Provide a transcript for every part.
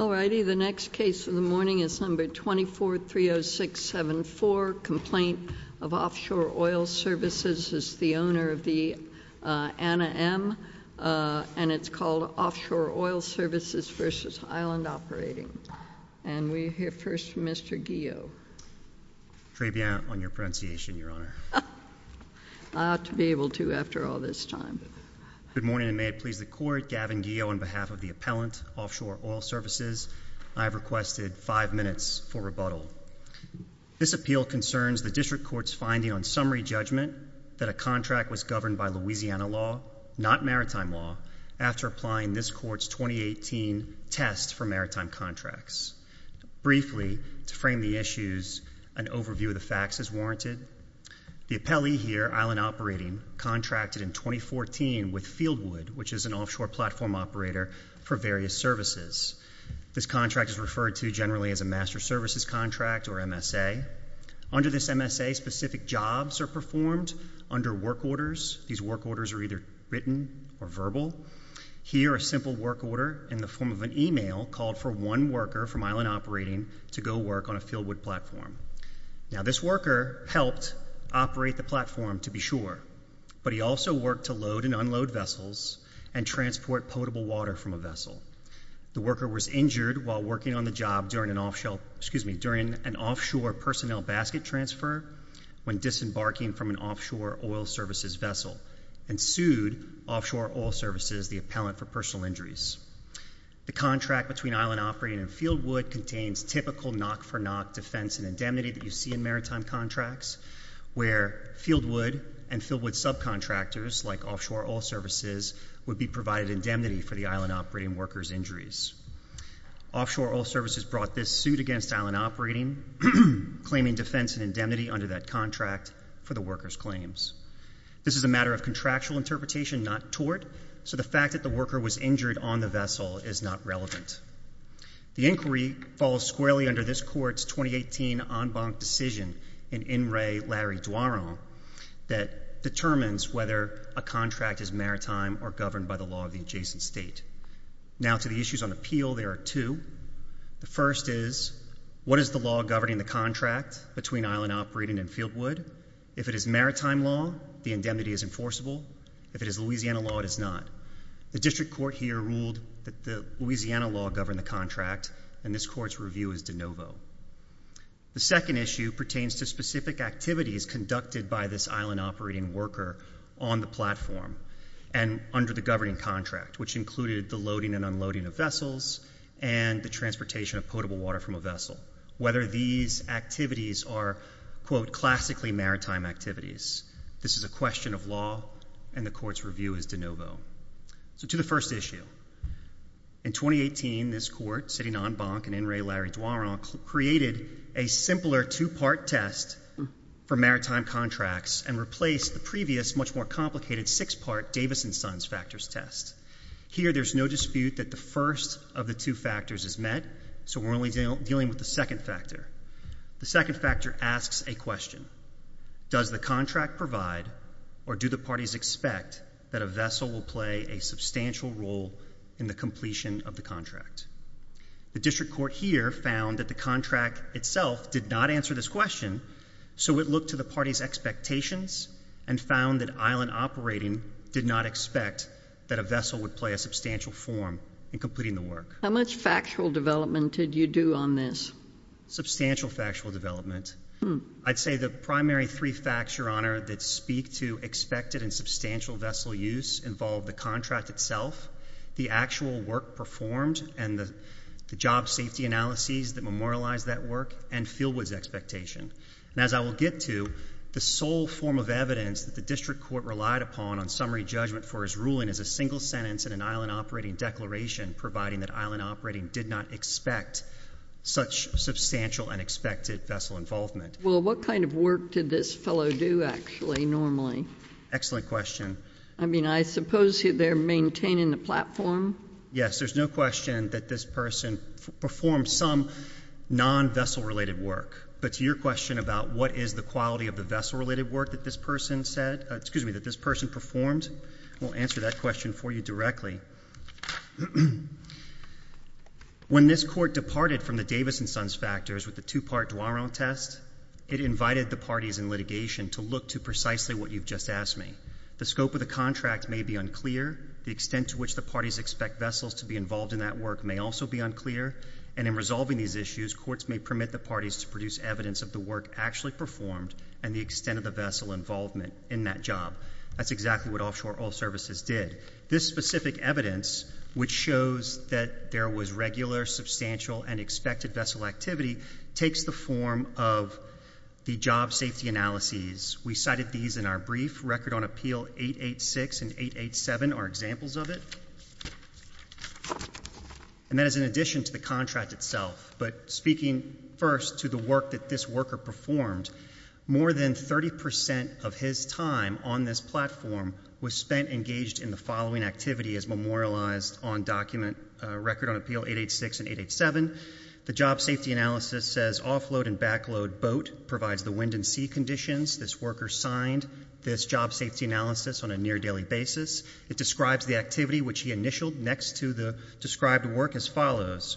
Number 2430674 Complaint of Offshore Oil Svc v. Island Operating Number 2430674 Complaint of Offshore Oil Svc v. Island Operating May it please the Court, Gavin Geo, on behalf of the Appellant, Offshore Oil Services, I have requested five minutes for rebuttal. This appeal concerns the District Court's finding on summary judgment that a contract was governed by Louisiana law, not maritime law, after applying this Court's 2018 test for maritime contracts. Briefly, to frame the issues, an overview of the facts is warranted. The appellee here, Island Operating, contracted in 2014 with Fieldwood, which is an offshore platform operator for various services. This contract is referred to generally as a Master Services Contract, or MSA. Under this MSA, specific jobs are performed under work orders. These work orders are either written or verbal. Here a simple work order in the form of an email called for one worker from Island Operating to go work on a Fieldwood platform. Now this worker helped operate the platform, to be sure, but he also worked to load and unload vessels and transport potable water from a vessel. The worker was injured while working on the job during an offshore personnel basket transfer when disembarking from an offshore oil services vessel, and sued Offshore Oil Services, the appellant for personal injuries. The contract between Island Operating and Fieldwood contains typical knock-for-knock defense and indemnity that you see in maritime contracts, where Fieldwood and Fieldwood subcontractors, like Offshore Oil Services, would be provided indemnity for the Island Operating worker's injuries. Offshore Oil Services brought this suit against Island Operating, claiming defense and indemnity under that contract for the worker's claims. This is a matter of contractual interpretation, not tort, so the fact that the worker was injured on the vessel is not relevant. The inquiry falls squarely under this Court's 2018 en banc decision in In Re. Larry Duaron that determines whether a contract is maritime or governed by the law of the adjacent state. Now to the issues on appeal, there are two. The first is, what is the law governing the contract between Island Operating and Fieldwood? If it is maritime law, the indemnity is enforceable. If it is Louisiana law, it is not. The district court here ruled that the Louisiana law governed the contract, and this Court's review is de novo. The second issue pertains to specific activities conducted by this Island Operating worker on the platform and under the governing contract, which included the loading and unloading of vessels and the transportation of potable water from a vessel. Whether these activities are, quote, classically maritime activities, this is a question of law, and the Court's review is de novo. So to the first issue, in 2018, this Court, sitting en banc in In Re. Larry Duaron, created a simpler two-part test for maritime contracts and replaced the previous much more complicated six-part Davis and Sons factors test. Here there's no dispute that the first of the two factors is met, so we're only dealing with the second factor. The second factor asks a question. Does the contract provide or do the parties expect that a vessel will play a substantial role in the completion of the contract? The district court here found that the contract itself did not answer this question, so it looked to the parties' expectations and found that Island Operating did not expect that a vessel would play a substantial form in completing the work. How much factual development did you do on this? Substantial factual development. Hmm. I'd say the primary three facts, Your Honor, that speak to expected and substantial vessel use involve the contract itself, the actual work performed, and the job safety analyses that memorialize that work, and Fieldwood's expectation. As I will get to, the sole form of evidence that the district court relied upon on summary judgment for his ruling is a single sentence in an Island Operating declaration providing that Island Operating did not expect such substantial and expected vessel involvement. Well, what kind of work did this fellow do, actually, normally? Excellent question. I mean, I suppose they're maintaining the platform? Yes. There's no question that this person performed some non-vessel-related work, but to your question about what is the quality of the vessel-related work that this person said — excuse me, that this person performed, we'll answer that question for you directly. When this court departed from the Davis and Sons factors with the two-part Dwaron test, it invited the parties in litigation to look to precisely what you've just asked me. The scope of the contract may be unclear, the extent to which the parties expect vessels to be involved in that work may also be unclear, and in resolving these issues, courts may permit the parties to produce evidence of the work actually performed and the extent of the vessel involvement in that job. That's exactly what Offshore Oil Services did. This specific evidence, which shows that there was regular, substantial, and expected vessel activity, takes the form of the job safety analyses. We cited these in our brief. Record on Appeal 886 and 887 are examples of it, and that is in addition to the contract itself. But speaking first to the work that this worker performed, more than 30 percent of his time on this platform was spent engaged in the following activity as memorialized on document Record on Appeal 886 and 887. The job safety analysis says offload and backload boat provides the wind and sea conditions. This worker signed this job safety analysis on a near daily basis. It describes the activity which he initialed next to the described work as follows.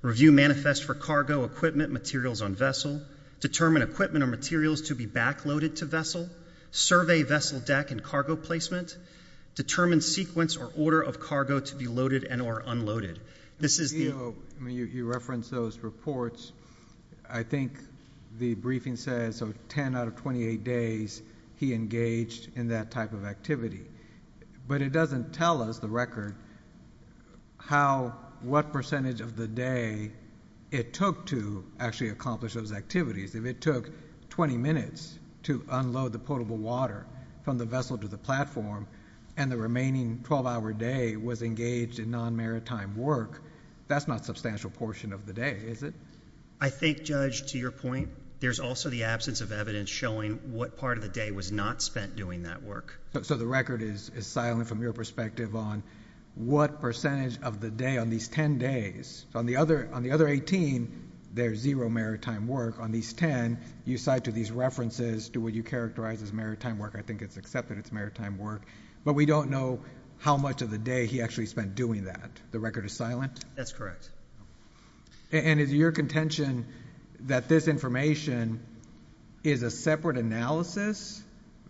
Review manifest for cargo equipment materials on vessel. Determine equipment or materials to be backloaded to vessel. Survey vessel deck and cargo placement. Determine sequence or order of cargo to be loaded and or unloaded. This is the... You referenced those reports. I think the briefing says 10 out of 28 days he engaged in that type of activity. But it doesn't tell us, the record, how, what percentage of the day it took to actually accomplish those activities. If it took 20 minutes to unload the potable water from the vessel to the platform and the remaining 12-hour day was engaged in non-maritime work, that's not a substantial portion of the day, is it? I think, Judge, to your point, there's also the absence of evidence showing what part of the day was not spent doing that work. So the record is silent from your perspective on what percentage of the day on these 10 days. So on the other 18, there's zero maritime work. On these 10, you cite to these references to what you characterize as maritime work. I think it's accepted it's maritime work. But we don't know how much of the day he actually spent doing that. The record is silent? That's correct. And is your contention that this information is a separate analysis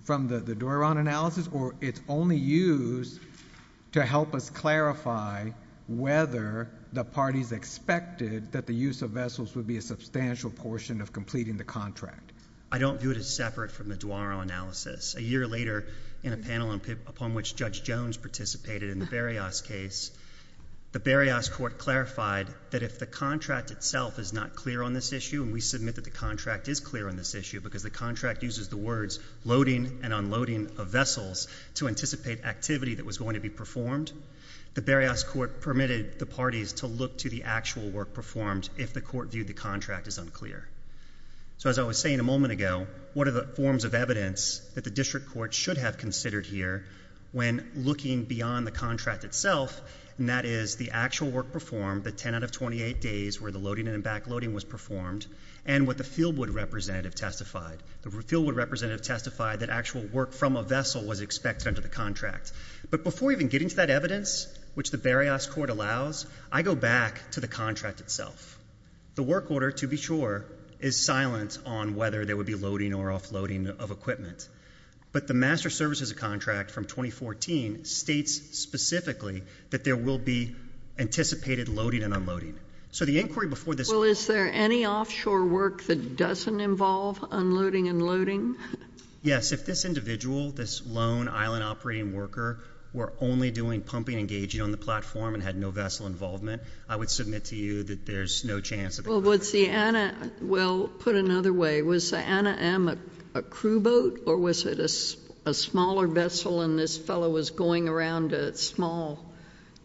from the Doron analysis or it's only used to help us clarify whether the parties expected that the use of vessels would be a substantial portion of completing the contract? I don't view it as separate from the Doron analysis. A year later, in a panel upon which Judge Jones participated in the Berrios case, the Berrios court clarified that if the contract itself is not clear on this issue, and we submit that the contract is clear on this issue because the contract uses the words loading and unloading of vessels to anticipate activity that was going to be performed. The Berrios court permitted the parties to look to the actual work performed if the court viewed the contract as unclear. So as I was saying a moment ago, what are the forms of evidence that the district court should have considered here when looking beyond the contract itself, and that is the actual work performed, the 10 out of 28 days where the loading and backloading was performed, and what the Fieldwood representative testified. The Fieldwood representative testified that actual work from a vessel was expected under the contract. But before even getting to that evidence, which the Berrios court allows, I go back to the contract itself. The work order, to be sure, is silent on whether there would be loading or offloading of equipment. But the master services contract from 2014 states specifically that there will be anticipated loading and unloading. So the inquiry before this- Well, is there any offshore work that doesn't involve unloading and loading? Yes, if this individual, this lone island operating worker, were only doing pumping and gauging on the platform and had no vessel involvement, I would submit to you that there's no chance of- Well, put another way, was the Anna M a crew boat or was it a smaller vessel and this fellow was going around small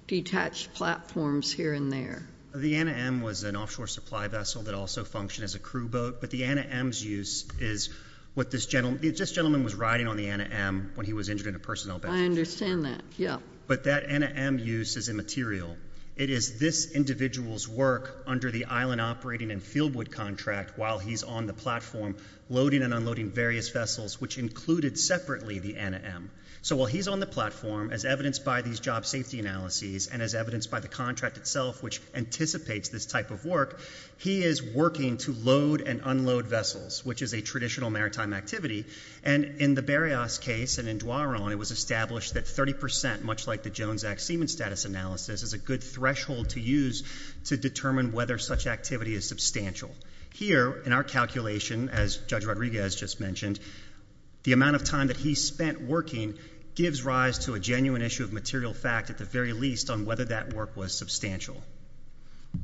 detached platforms here and there? The Anna M was an offshore supply vessel that also functioned as a crew boat. But the Anna M's use is what this gentleman, this gentleman was riding on the Anna M when he was injured in a personnel battle. I understand that, yeah. But that Anna M use is immaterial. It is this individual's work under the island operating and Fieldwood contract while he's on the platform loading and unloading various vessels, which included separately the Anna M. So while he's on the platform, as evidenced by these job safety analyses and as evidenced by the contract itself, which anticipates this type of work, he is working to load and unload vessels, which is a traditional maritime activity, and in the Berrios case and in Dwaron, it was established that 30%, much like the Jones Act seaman status analysis, is a good threshold to use to determine whether such activity is substantial. Here in our calculation, as Judge Rodriguez just mentioned, the amount of time that he spent working gives rise to a genuine issue of material fact, at the very least, on whether that work was substantial.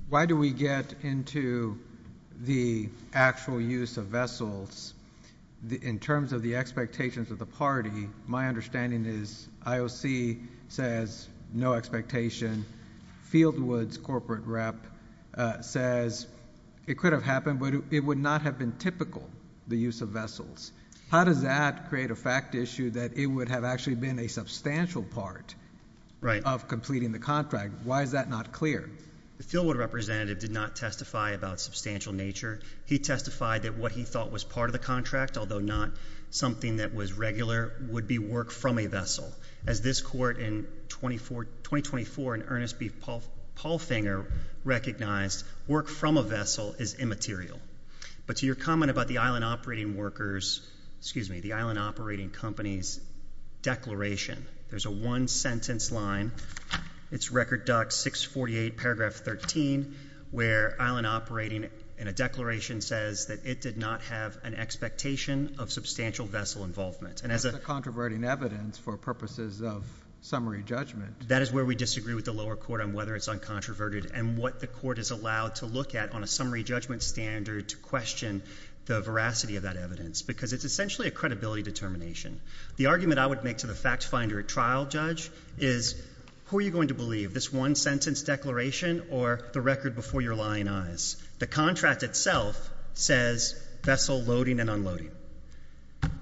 Why do we get into the actual use of vessels in terms of the expectations of the party? My understanding is IOC says no expectation. Fieldwood's corporate rep says it could have happened, but it would not have been typical, the use of vessels. How does that create a fact issue that it would have actually been a substantial part of completing the contract? Why is that not clear? The Fieldwood representative did not testify about substantial nature. He testified that what he thought was part of the contract, although not something that was regular, would be work from a vessel. As this court in 2024 in Ernest B. Paulfinger recognized, work from a vessel is immaterial. But to your comment about the island operating workers, excuse me, the island operating company's declaration. There's a one sentence line. It's record doc 648 paragraph 13, where island operating and a declaration says that it did not have an expectation of substantial vessel involvement. And as a- That's a controverting evidence for purposes of summary judgment. That is where we disagree with the lower court on whether it's uncontroverted and what the court is allowed to look at on a summary judgment standard to question the veracity of that evidence. Because it's essentially a credibility determination. The argument I would make to the fact finder at trial, judge, is who are you going to believe? This one sentence declaration or the record before your lying eyes? The contract itself says vessel loading and unloading.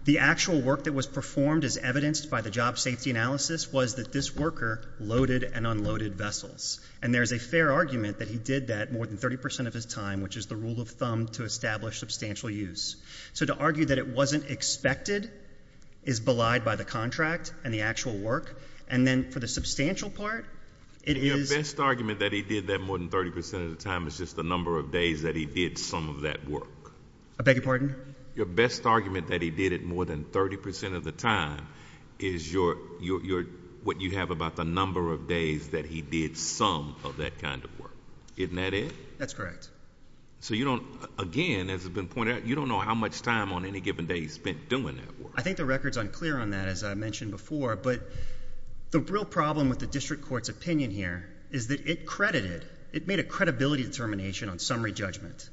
The actual work that was performed as evidenced by the job safety analysis was that this worker loaded and unloaded vessels. And there's a fair argument that he did that more than 30% of his time, which is the rule of thumb to establish substantial use. So to argue that it wasn't expected is belied by the contract and the actual work. And then for the substantial part, it is- Your best argument that he did that more than 30% of the time is just the number of days that he did some of that work. I beg your pardon? Your best argument that he did it more than 30% of the time is what you have about the number of days that he did some of that kind of work. Isn't that it? That's correct. So you don't, again, as has been pointed out, you don't know how much time on any given day he spent doing that work. I think the record's unclear on that, as I mentioned before. But the real problem with the district court's opinion here is that it credited, it made a credibility determination on summary judgment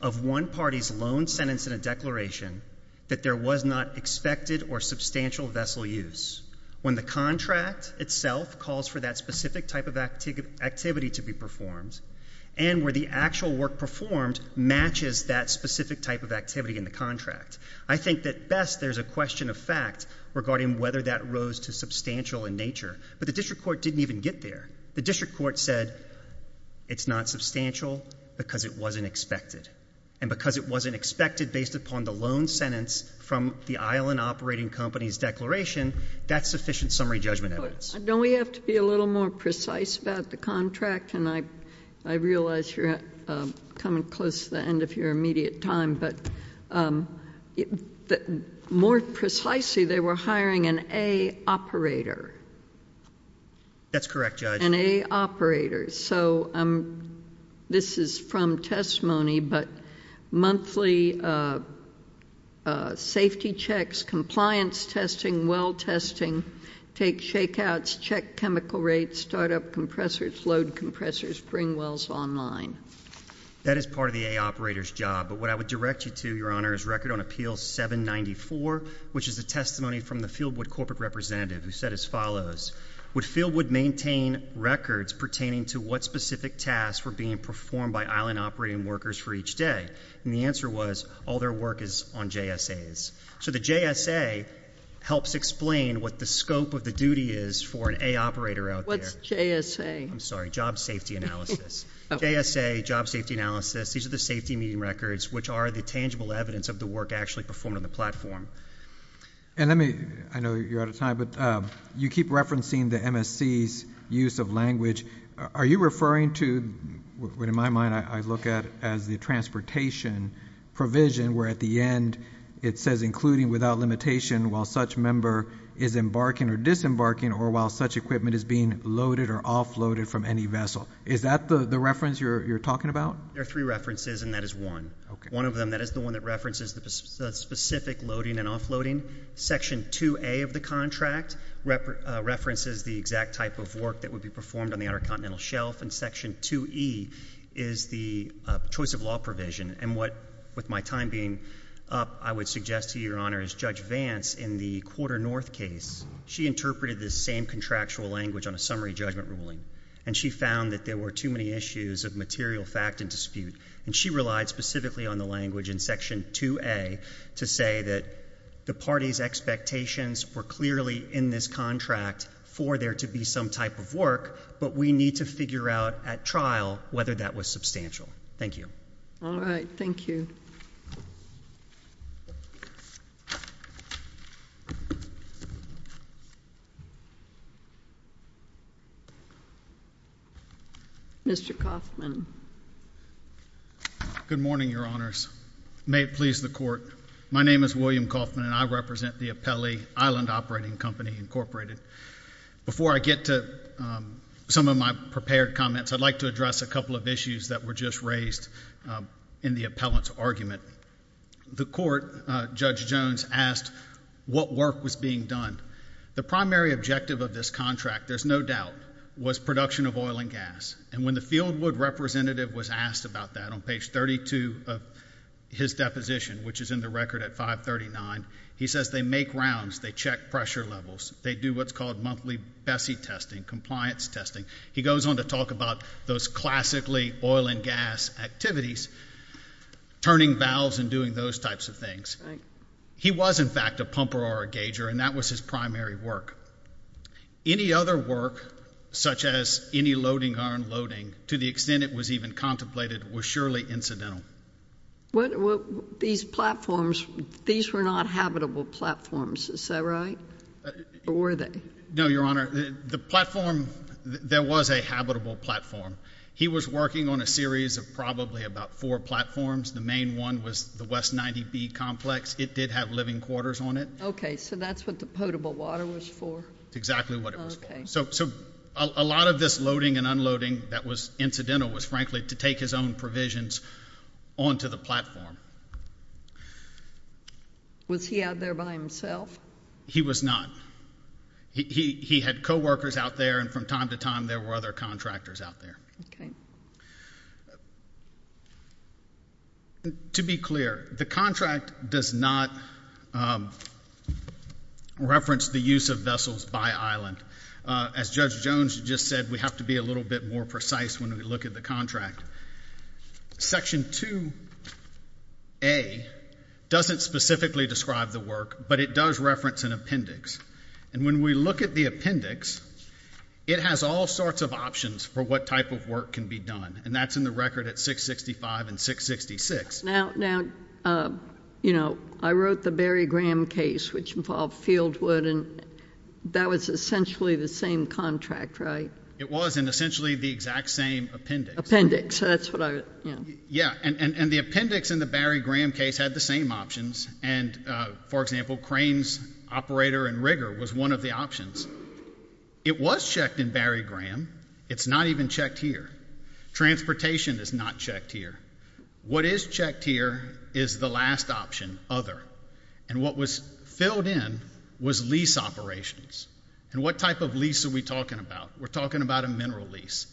of one party's loan sentence and a declaration that there was not expected or substantial vessel use. When the contract itself calls for that specific type of activity to be performed, and where the actual work performed matches that specific type of activity in the contract. I think that best there's a question of fact regarding whether that rose to substantial in nature, but the district court didn't even get there. The district court said it's not substantial because it wasn't expected. And because it wasn't expected based upon the loan sentence from the island operating company's declaration, that's sufficient summary judgment evidence. Don't we have to be a little more precise about the contract? And I realize you're coming close to the end of your immediate time, but more precisely, they were hiring an A operator. That's correct, Judge. An A operator, so this is from testimony, but monthly safety checks, compliance testing, well testing, take shakeouts, check chemical rates, start up compressors, load compressors, bring wells online. That is part of the A operator's job. But what I would direct you to, Your Honor, is record on Appeal 794, which is a testimony from the Fieldwood corporate representative, who said as follows. Would Fieldwood maintain records pertaining to what specific tasks were being performed by island operating workers for each day? And the answer was, all their work is on JSAs. So the JSA helps explain what the scope of the duty is for an A operator out there. What's JSA? I'm sorry, job safety analysis. JSA, job safety analysis, these are the safety meeting records, which are the tangible evidence of the work actually performed on the platform. And let me, I know you're out of time, but you keep referencing the MSC's use of language. Are you referring to, what in my mind I look at as the transportation provision, where at the end it says including without limitation while such member is embarking or disembarking or while such equipment is being loaded or offloaded from any vessel. Is that the reference you're talking about? There are three references and that is one. One of them, that is the one that references the specific loading and offloading. Section 2A of the contract references the exact type of work that would be performed on the intercontinental shelf. And section 2E is the choice of law provision. And what, with my time being up, I would suggest to you, Your Honor, is Judge Vance in the quarter north case. She interpreted the same contractual language on a summary judgment ruling. And she found that there were too many issues of material fact and dispute. And she relied specifically on the language in section 2A to say that the party's expectations were clearly in this contract for there to be some type of work. But we need to figure out at trial whether that was substantial. Thank you. All right, thank you. Mr. Coffman. Good morning, Your Honors. May it please the court. My name is William Coffman and I represent the appellee, Island Operating Company, Incorporated. Before I get to some of my prepared comments, I'd like to address a couple of issues that were just raised in the appellant's argument. The court, Judge Jones, asked what work was being done. The primary objective of this contract, there's no doubt, was production of oil and gas. And when the Fieldwood representative was asked about that on page 32 of his deposition, which is in the record at 539. He says they make rounds, they check pressure levels, they do what's called monthly Bessie testing, compliance testing. He goes on to talk about those classically oil and gas activities, turning valves and doing those types of things. He was, in fact, a pumper or a gauger, and that was his primary work. Any other work, such as any loading or unloading, to the extent it was even contemplated, was surely incidental. These platforms, these were not habitable platforms, is that right? Or were they? No, Your Honor. The platform, there was a habitable platform. He was working on a series of probably about four platforms. The main one was the West 90B complex. It did have living quarters on it. Okay, so that's what the potable water was for. Exactly what it was for. So a lot of this loading and unloading that was incidental was, frankly, to take his own provisions onto the platform. Was he out there by himself? He was not. He had co-workers out there, and from time to time, there were other contractors out there. Okay. To be clear, the contract does not reference the use of vessels by island. As Judge Jones just said, we have to be a little bit more precise when we look at the contract. Section 2A doesn't specifically describe the work, but it does reference an appendix. And when we look at the appendix, it has all sorts of options for what type of work can be done. And that's in the record at 665 and 666. Now, I wrote the Barry Graham case, which involved Fieldwood, and that was essentially the same contract, right? It was, and essentially the exact same appendix. Appendix, that's what I, yeah. Yeah, and the appendix in the Barry Graham case had the same options. And, for example, cranes, operator, and rigger was one of the options. It was checked in Barry Graham. It's not even checked here. Transportation is not checked here. What is checked here is the last option, other. And what was filled in was lease operations. And what type of lease are we talking about? We're talking about a mineral lease.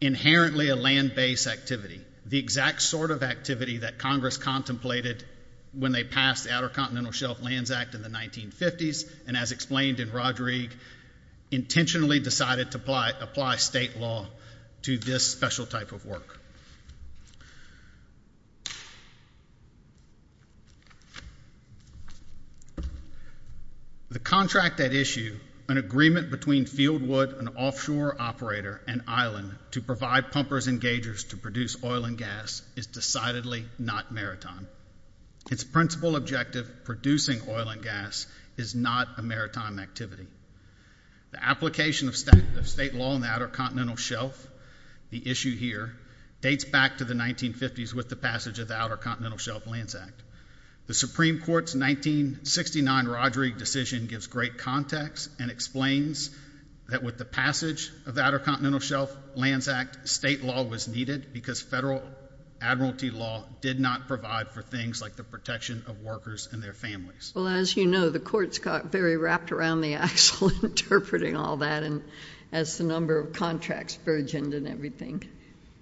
Inherently a land-based activity. The exact sort of activity that Congress contemplated when they passed the Outer Continental Shelf Lands Act in the 1950s, and as explained in Rodriguez, intentionally decided to apply state law to this special type of work. The contract at issue, an agreement between Fieldwood, an offshore operator, and Island to provide pumpers and gaugers to produce oil and gas, is decidedly not maritime. Its principle objective, producing oil and gas, is not a maritime activity. The application of state law in the Outer Continental Shelf, the issue here, dates back to the 1950s with the passage of the Outer Continental Shelf Lands Act. The Supreme Court's 1969 Roderick decision gives great context and explains that with the passage of the Outer Continental Shelf Lands Act, state law was needed because federal admiralty law did not provide for things like the protection of workers and their families. Well, as you know, the courts got very wrapped around the axle interpreting all that and as the number of contracts burgeoned and everything.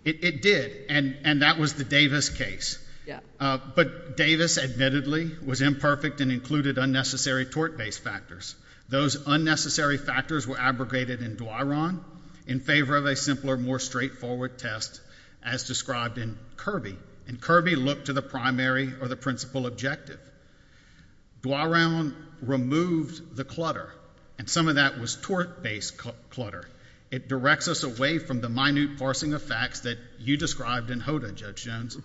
It did, and that was the Davis case. Yeah. But Davis, admittedly, was imperfect and included unnecessary tort-based factors. Those unnecessary factors were abrogated in Dwyron in favor of a simpler, more straightforward test as described in Kirby. And Kirby looked to the primary or the principal objective. Dwyron removed the clutter, and some of that was tort-based clutter. It directs us away from the minute parsing of facts that you described in Hoda, Judge Jones.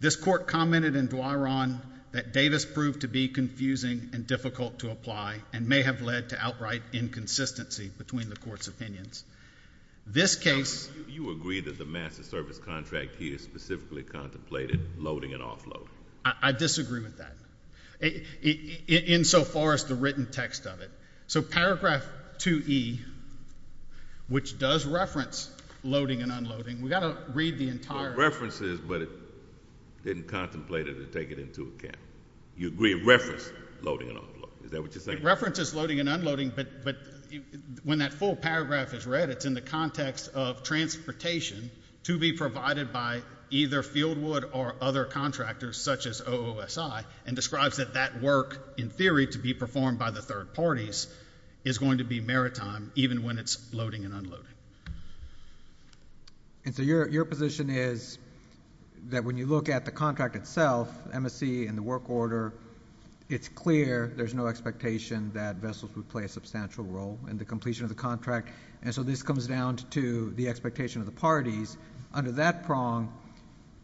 This court commented in Dwyron that Davis proved to be confusing and difficult to apply, and may have led to outright inconsistency between the court's opinions. This case- You agree that the master service contract here specifically contemplated loading and offloading. I disagree with that, in so far as the written text of it. So paragraph 2E, which does reference loading and unloading. We gotta read the entire- References, but it didn't contemplate it or take it into account. You agree reference loading and unloading, is that what you're saying? References loading and unloading, but when that full paragraph is read, it's in the context of transportation to be provided by either Fieldwood or other contractors such as OOSI, and describes that that work, in theory, to be performed by the third parties, is going to be maritime, even when it's loading and unloading. And so your position is that when you look at the contract itself, MSC and the work order, it's clear there's no expectation that vessels would play a substantial role in the completion of the contract. And so this comes down to the expectation of the parties. Under that prong,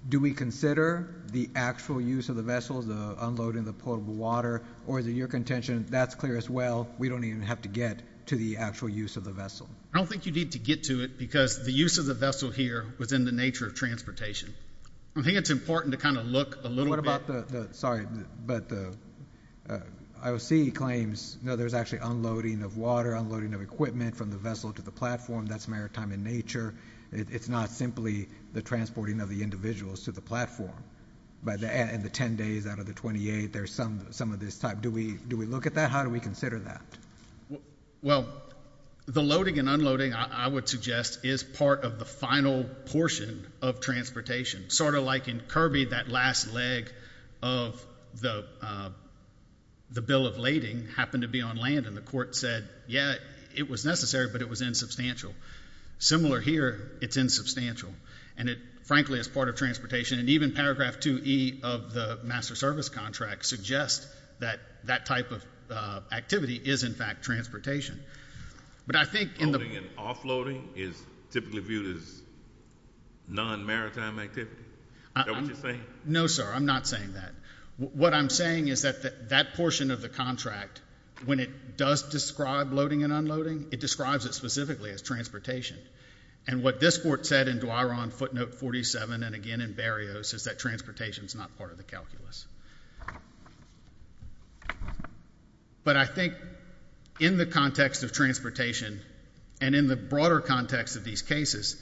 do we consider the actual use of the vessels, the unloading of the potable water, or is it your contention that's clear as well, we don't even have to get to the actual use of the vessel? I don't think you need to get to it, because the use of the vessel here was in the nature of transportation. I think it's important to kind of look a little bit- What about the, sorry, but the, IOC claims, no, there's actually unloading of water, unloading of equipment from the vessel to the platform, that's maritime in nature. It's not simply the transporting of the individuals to the platform. By the end, in the ten days out of the 28, there's some of this type. Do we look at that? How do we consider that? Well, the loading and unloading, I would suggest, is part of the final portion of transportation. Sort of like in Kirby, that last leg of the bill of lading happened to be on land. And the court said, yeah, it was necessary, but it was insubstantial. Similar here, it's insubstantial. And it, frankly, is part of transportation. And even paragraph 2E of the master service contract suggests that that type of activity is, in fact, transportation. But I think in the- Loading and offloading is typically viewed as non-maritime activity, is that what you're saying? No, sir, I'm not saying that. What I'm saying is that that portion of the contract, when it does describe loading and unloading, it describes it specifically as transportation. And what this court said in Duaron footnote 47, and again in Barrios, is that transportation is not part of the calculus. But I think in the context of transportation, and in the broader context of these cases,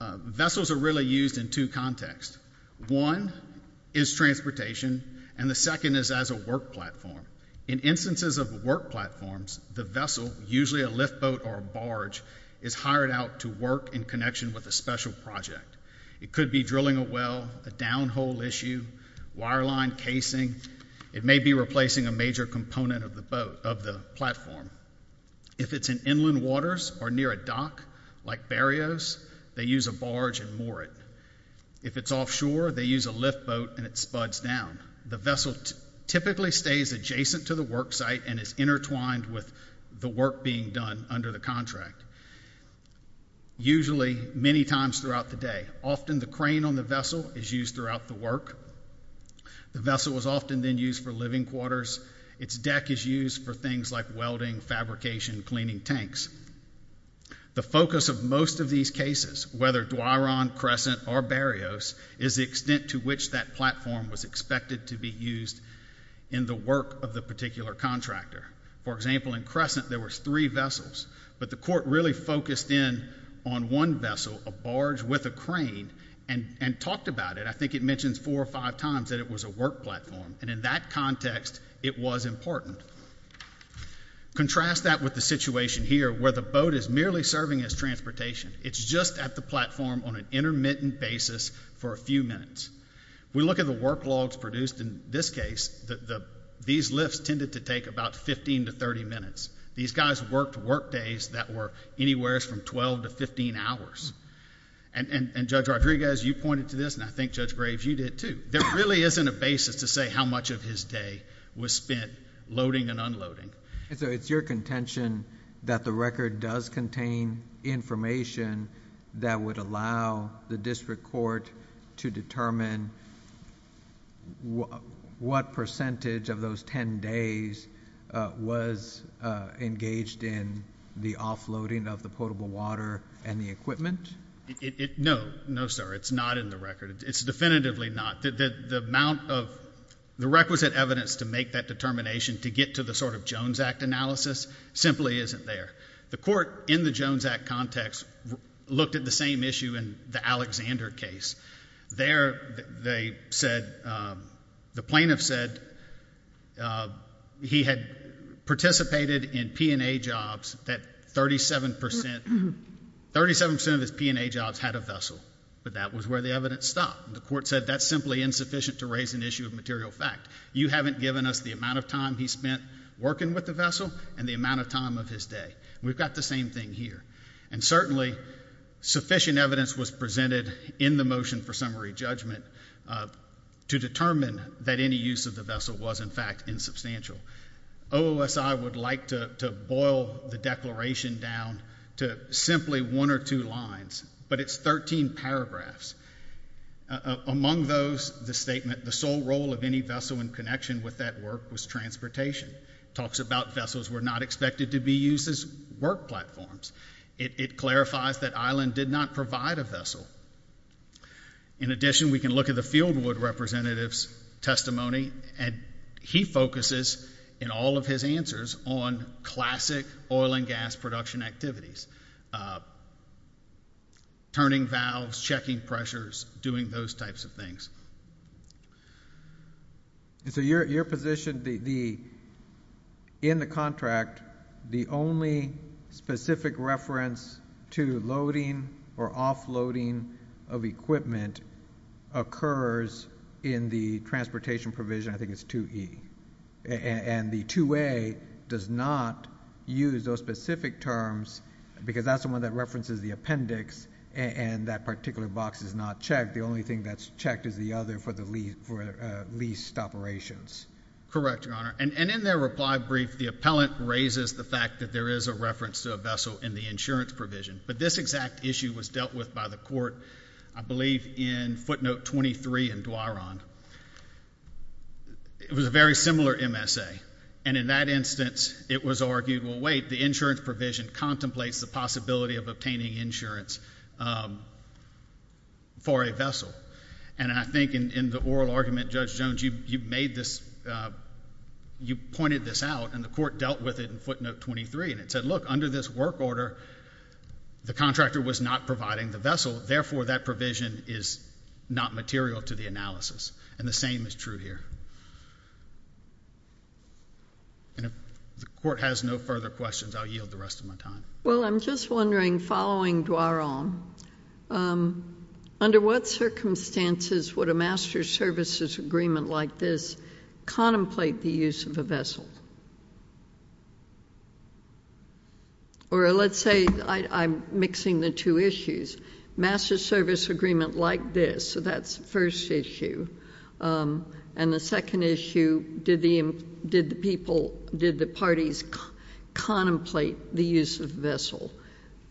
vessels are really used in two contexts. One is transportation, and the second is as a work platform. In instances of work platforms, the vessel, usually a lift boat or a barge, is hired out to work in connection with a special project. It could be drilling a well, a downhole issue, wire line casing. It may be replacing a major component of the platform. If it's in inland waters or near a dock, like Barrios, they use a barge and moor it. If it's offshore, they use a lift boat and it spuds down. The vessel typically stays adjacent to the work site and is intertwined with the work being done under the contract, usually many times throughout the day. Often the crane on the vessel is used throughout the work. The vessel is often then used for living quarters. Its deck is used for things like welding, fabrication, cleaning tanks. The focus of most of these cases, whether Duaron, Crescent, or Barrios, is the extent to which that platform was expected to be used in the work of the particular contractor. For example, in Crescent there were three vessels, but the court really focused in on one vessel, a barge with a crane, and talked about it. I think it mentions four or five times that it was a work platform, and in that context it was important. Contrast that with the situation here where the boat is merely serving as transportation. It's just at the platform on an intermittent basis for a few minutes. We look at the work logs produced in this case. These lifts tended to take about 15 to 30 minutes. These guys worked work days that were anywhere from 12 to 15 hours. And Judge Rodriguez, you pointed to this, and I think Judge Graves, you did too. There really isn't a basis to say how much of his day was spent loading and unloading. It's your contention that the record does contain information that would allow the district court to determine what percentage of those ten days was engaged in the offloading of the potable water and the equipment? No, sir. It's not in the record. It's definitively not. The amount of the requisite evidence to make that determination to get to the sort of Jones Act analysis simply isn't there. The court in the Jones Act context looked at the same issue in the Alexander case. There they said, the plaintiff said he had participated in P&A jobs that 37% of his P&A jobs had a vessel. But that was where the evidence stopped. The court said that's simply insufficient to raise an issue of material fact. You haven't given us the amount of time he spent working with the vessel and the amount of time of his day. We've got the same thing here. And certainly, sufficient evidence was presented in the motion for summary judgment to determine that any use of the vessel was, in fact, insubstantial. OOSI would like to boil the declaration down to simply one or two lines, but it's 13 paragraphs. Among those, the statement, the sole role of any vessel in connection with that work was transportation. It talks about vessels were not expected to be used as work platforms. It clarifies that Island did not provide a vessel. In addition, we can look at the Fieldwood representative's testimony, and he focuses in all of his answers on classic oil and gas production activities. Turning valves, checking pressures, doing those types of things. So your position, in the contract, the only specific reference to loading or offloading of equipment occurs in the transportation provision, I think it's 2E. And the 2A does not use those specific terms, because that's the one that references the appendix, and that particular box is not checked. The only thing that's checked is the other for the leased operations. Correct, Your Honor. And in their reply brief, the appellant raises the fact that there is a reference to a vessel in the insurance provision. But this exact issue was dealt with by the court, I believe, in footnote 23 in Duaron. It was a very similar MSA. And in that instance, it was argued, well, wait, the insurance provision contemplates the possibility of obtaining insurance for a vessel. And I think in the oral argument, Judge Jones, you pointed this out, and the court dealt with it in footnote 23, and it said, look, under this work order, the contractor was not providing the vessel, therefore, that provision is not material to the analysis. And the same is true here. And if the court has no further questions, I'll yield the rest of my time. Well, I'm just wondering, following Duaron, under what circumstances would a master's services agreement like this contemplate the use of a vessel? Or let's say I'm mixing the two issues. Master's service agreement like this, so that's the first issue. And the second issue, did the parties contemplate the use of the vessel?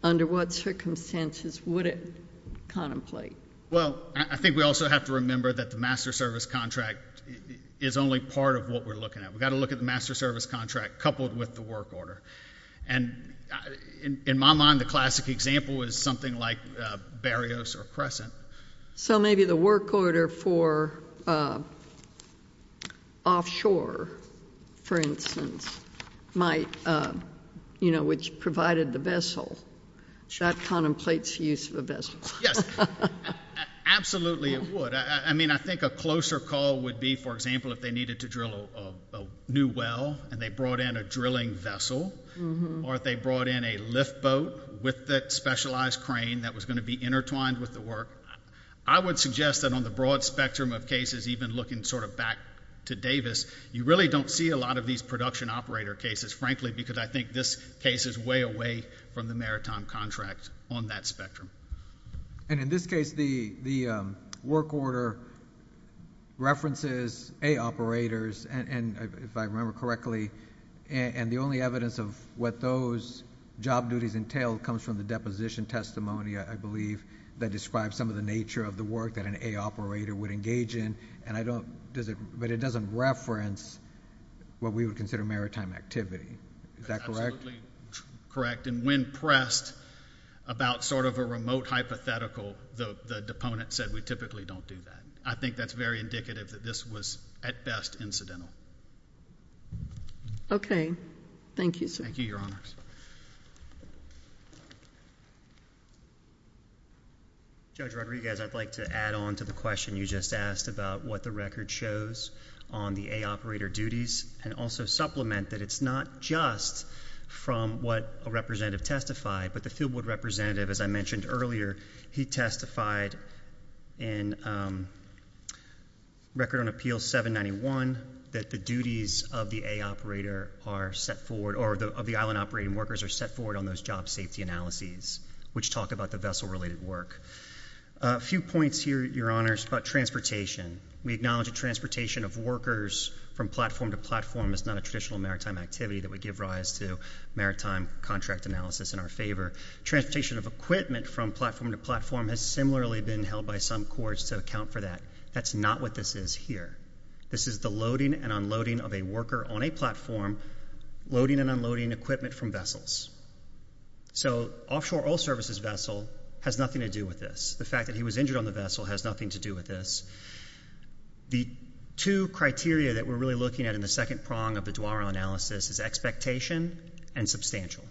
Under what circumstances would it contemplate? Well, I think we also have to remember that the master's service contract is only part of what we're looking at. We've got to look at the master's service contract coupled with the work order. And in my mind, the classic example is something like Barrios or Crescent. So maybe the work order for offshore, for instance, might, you know, which provided the vessel, that contemplates the use of a vessel. Yes. Absolutely, it would. I mean, I think a closer call would be, for example, if they needed to drill a new well and they brought in a drilling vessel, or if they brought in a lift boat with that specialized crane that was going to be intertwined with the work. I would suggest that on the broad spectrum of cases, even looking sort of back to Davis, you really don't see a lot of these production operator cases, frankly, because I think this case is way away from the maritime contract on that spectrum. And in this case, the work order references A operators, and if I remember correctly, and the only evidence of what those job duties entail comes from the deposition testimony, I believe, that describes some of the nature of the work that an A operator would engage in, and I don't, does it, but it doesn't reference what we would consider maritime activity. Is that correct? Absolutely correct. And when pressed about sort of a remote hypothetical, the deponent said, we typically don't do that. I think that's very indicative that this was, at best, incidental. Okay. Thank you, sir. Thank you, Your Honors. Judge Rodriguez, I'd like to add on to the question you just asked about what the record shows on the A operator duties, and also supplement that it's not just from what a representative testified, but the field board representative, as I mentioned earlier, he testified in Record on Appeal 791 that the duties of the A operator are set forward, or of the island operating workers are set forward on those job safety analyses, which talk about the vessel-related work. A few points here, Your Honors, about transportation. We acknowledge that transportation of workers from platform to platform is not a traditional maritime activity that would give rise to maritime contract analysis in our favor. Transportation of equipment from platform to platform has similarly been held by some courts to account for that. That's not what this is here. This is the loading and unloading of a worker on a platform, loading and unloading equipment from vessels. So offshore oil services vessel has nothing to do with this. The fact that he was injured on the vessel has nothing to do with this. The two criteria that we're really looking at in the second prong of the DWARA analysis is expectation and substantial.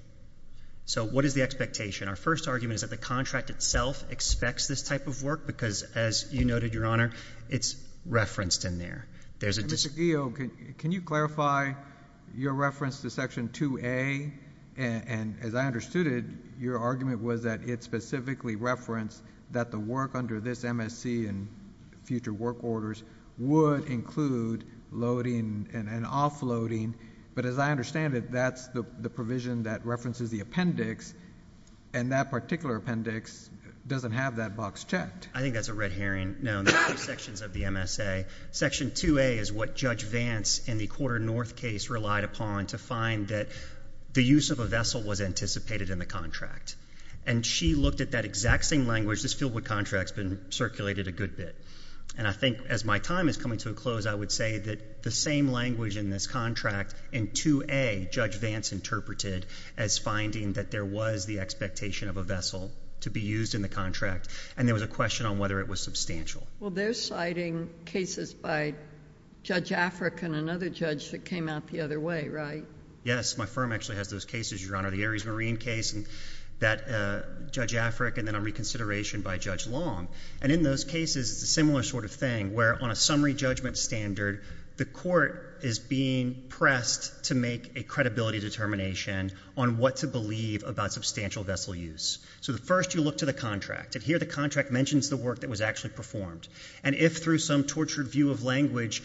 So what is the expectation? Our first argument is that the contract itself expects this type of work, because as you noted, Your Honor, it's referenced in there. There's a dis- Mr. Guillo, can you clarify your reference to Section 2A? And as I understood it, your argument was that it specifically referenced that the work under this MSC and future work orders would include loading and offloading. But as I understand it, that's the provision that references the appendix, and that particular appendix doesn't have that box checked. I think that's a red herring. No, there are two sections of the MSA. Section 2A is what Judge Vance in the Quarter North case relied upon to find that the use of a vessel was anticipated in the contract. And she looked at that exact same language. This fieldwork contract's been circulated a good bit. And I think as my time is coming to a close, I would say that the same language in this contract in 2A, Judge Vance interpreted as finding that there was the expectation of a vessel to be used in the contract, and there was a question on whether it was substantial. Well, they're citing cases by Judge Afric and another judge that came out the other way, right? Yes. My firm actually has those cases, Your Honor. The Aries Marine case, and that Judge Afric, and then on reconsideration by Judge Long. And in those cases, it's a similar sort of thing, where on a summary judgment standard, the court is being pressed to make a credibility determination on what to believe about substantial vessel use. So first, you look to the contract, and here the contract mentions the work that was actually performed. And if through some tortured view of language,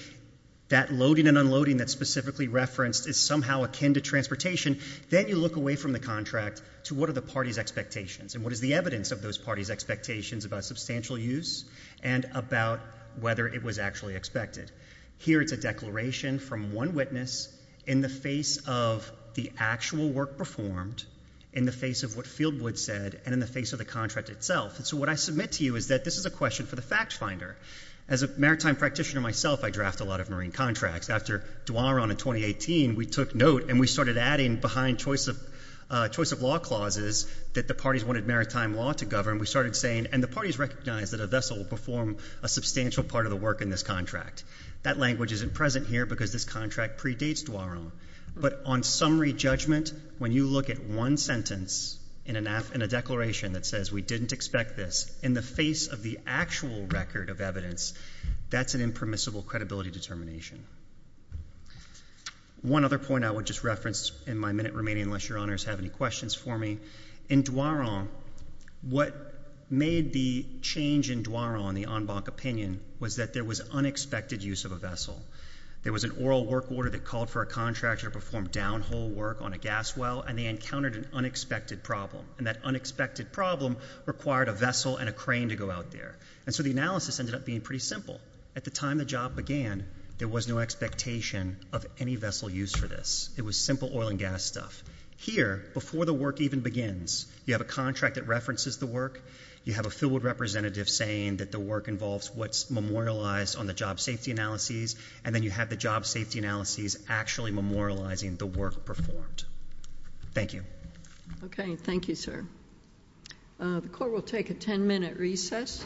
that loading and unloading that's specifically referenced is somehow akin to transportation, then you look away from the contract to what are the party's expectations, and what is the evidence of those parties' expectations about substantial use, and about whether it was actually expected. Here it's a declaration from one witness in the face of the actual work performed, in the face of what Fieldwood said, and in the face of the contract itself. And so what I submit to you is that this is a question for the fact finder. As a maritime practitioner myself, I draft a lot of marine contracts. After Dwaron in 2018, we took note, and we started adding behind choice of law clauses that the parties wanted maritime law to govern. We started saying, and the parties recognized that a vessel will perform a substantial part of the work in this contract. That language isn't present here, because this contract predates Dwaron. But on summary judgment, when you look at one sentence in a declaration that says we didn't expect this, in the face of the actual record of evidence, that's an impermissible credibility determination. One other point I would just reference in my minute remaining, unless your honors have any questions for me. In Dwaron, what made the change in Dwaron, the en banc opinion, was that there was unexpected use of a vessel. There was an oral work order that called for a contractor to perform downhole work on a gas well, and they encountered an unexpected problem. And that unexpected problem required a vessel and a crane to go out there. And so the analysis ended up being pretty simple. At the time the job began, there was no expectation of any vessel use for this. It was simple oil and gas stuff. Here, before the work even begins, you have a contract that references the work. You have a field representative saying that the work involves what's memorialized on the job safety analyses. And then you have the job safety analyses actually memorializing the work performed. Thank you. Okay, thank you, sir. The court will take a ten minute recess.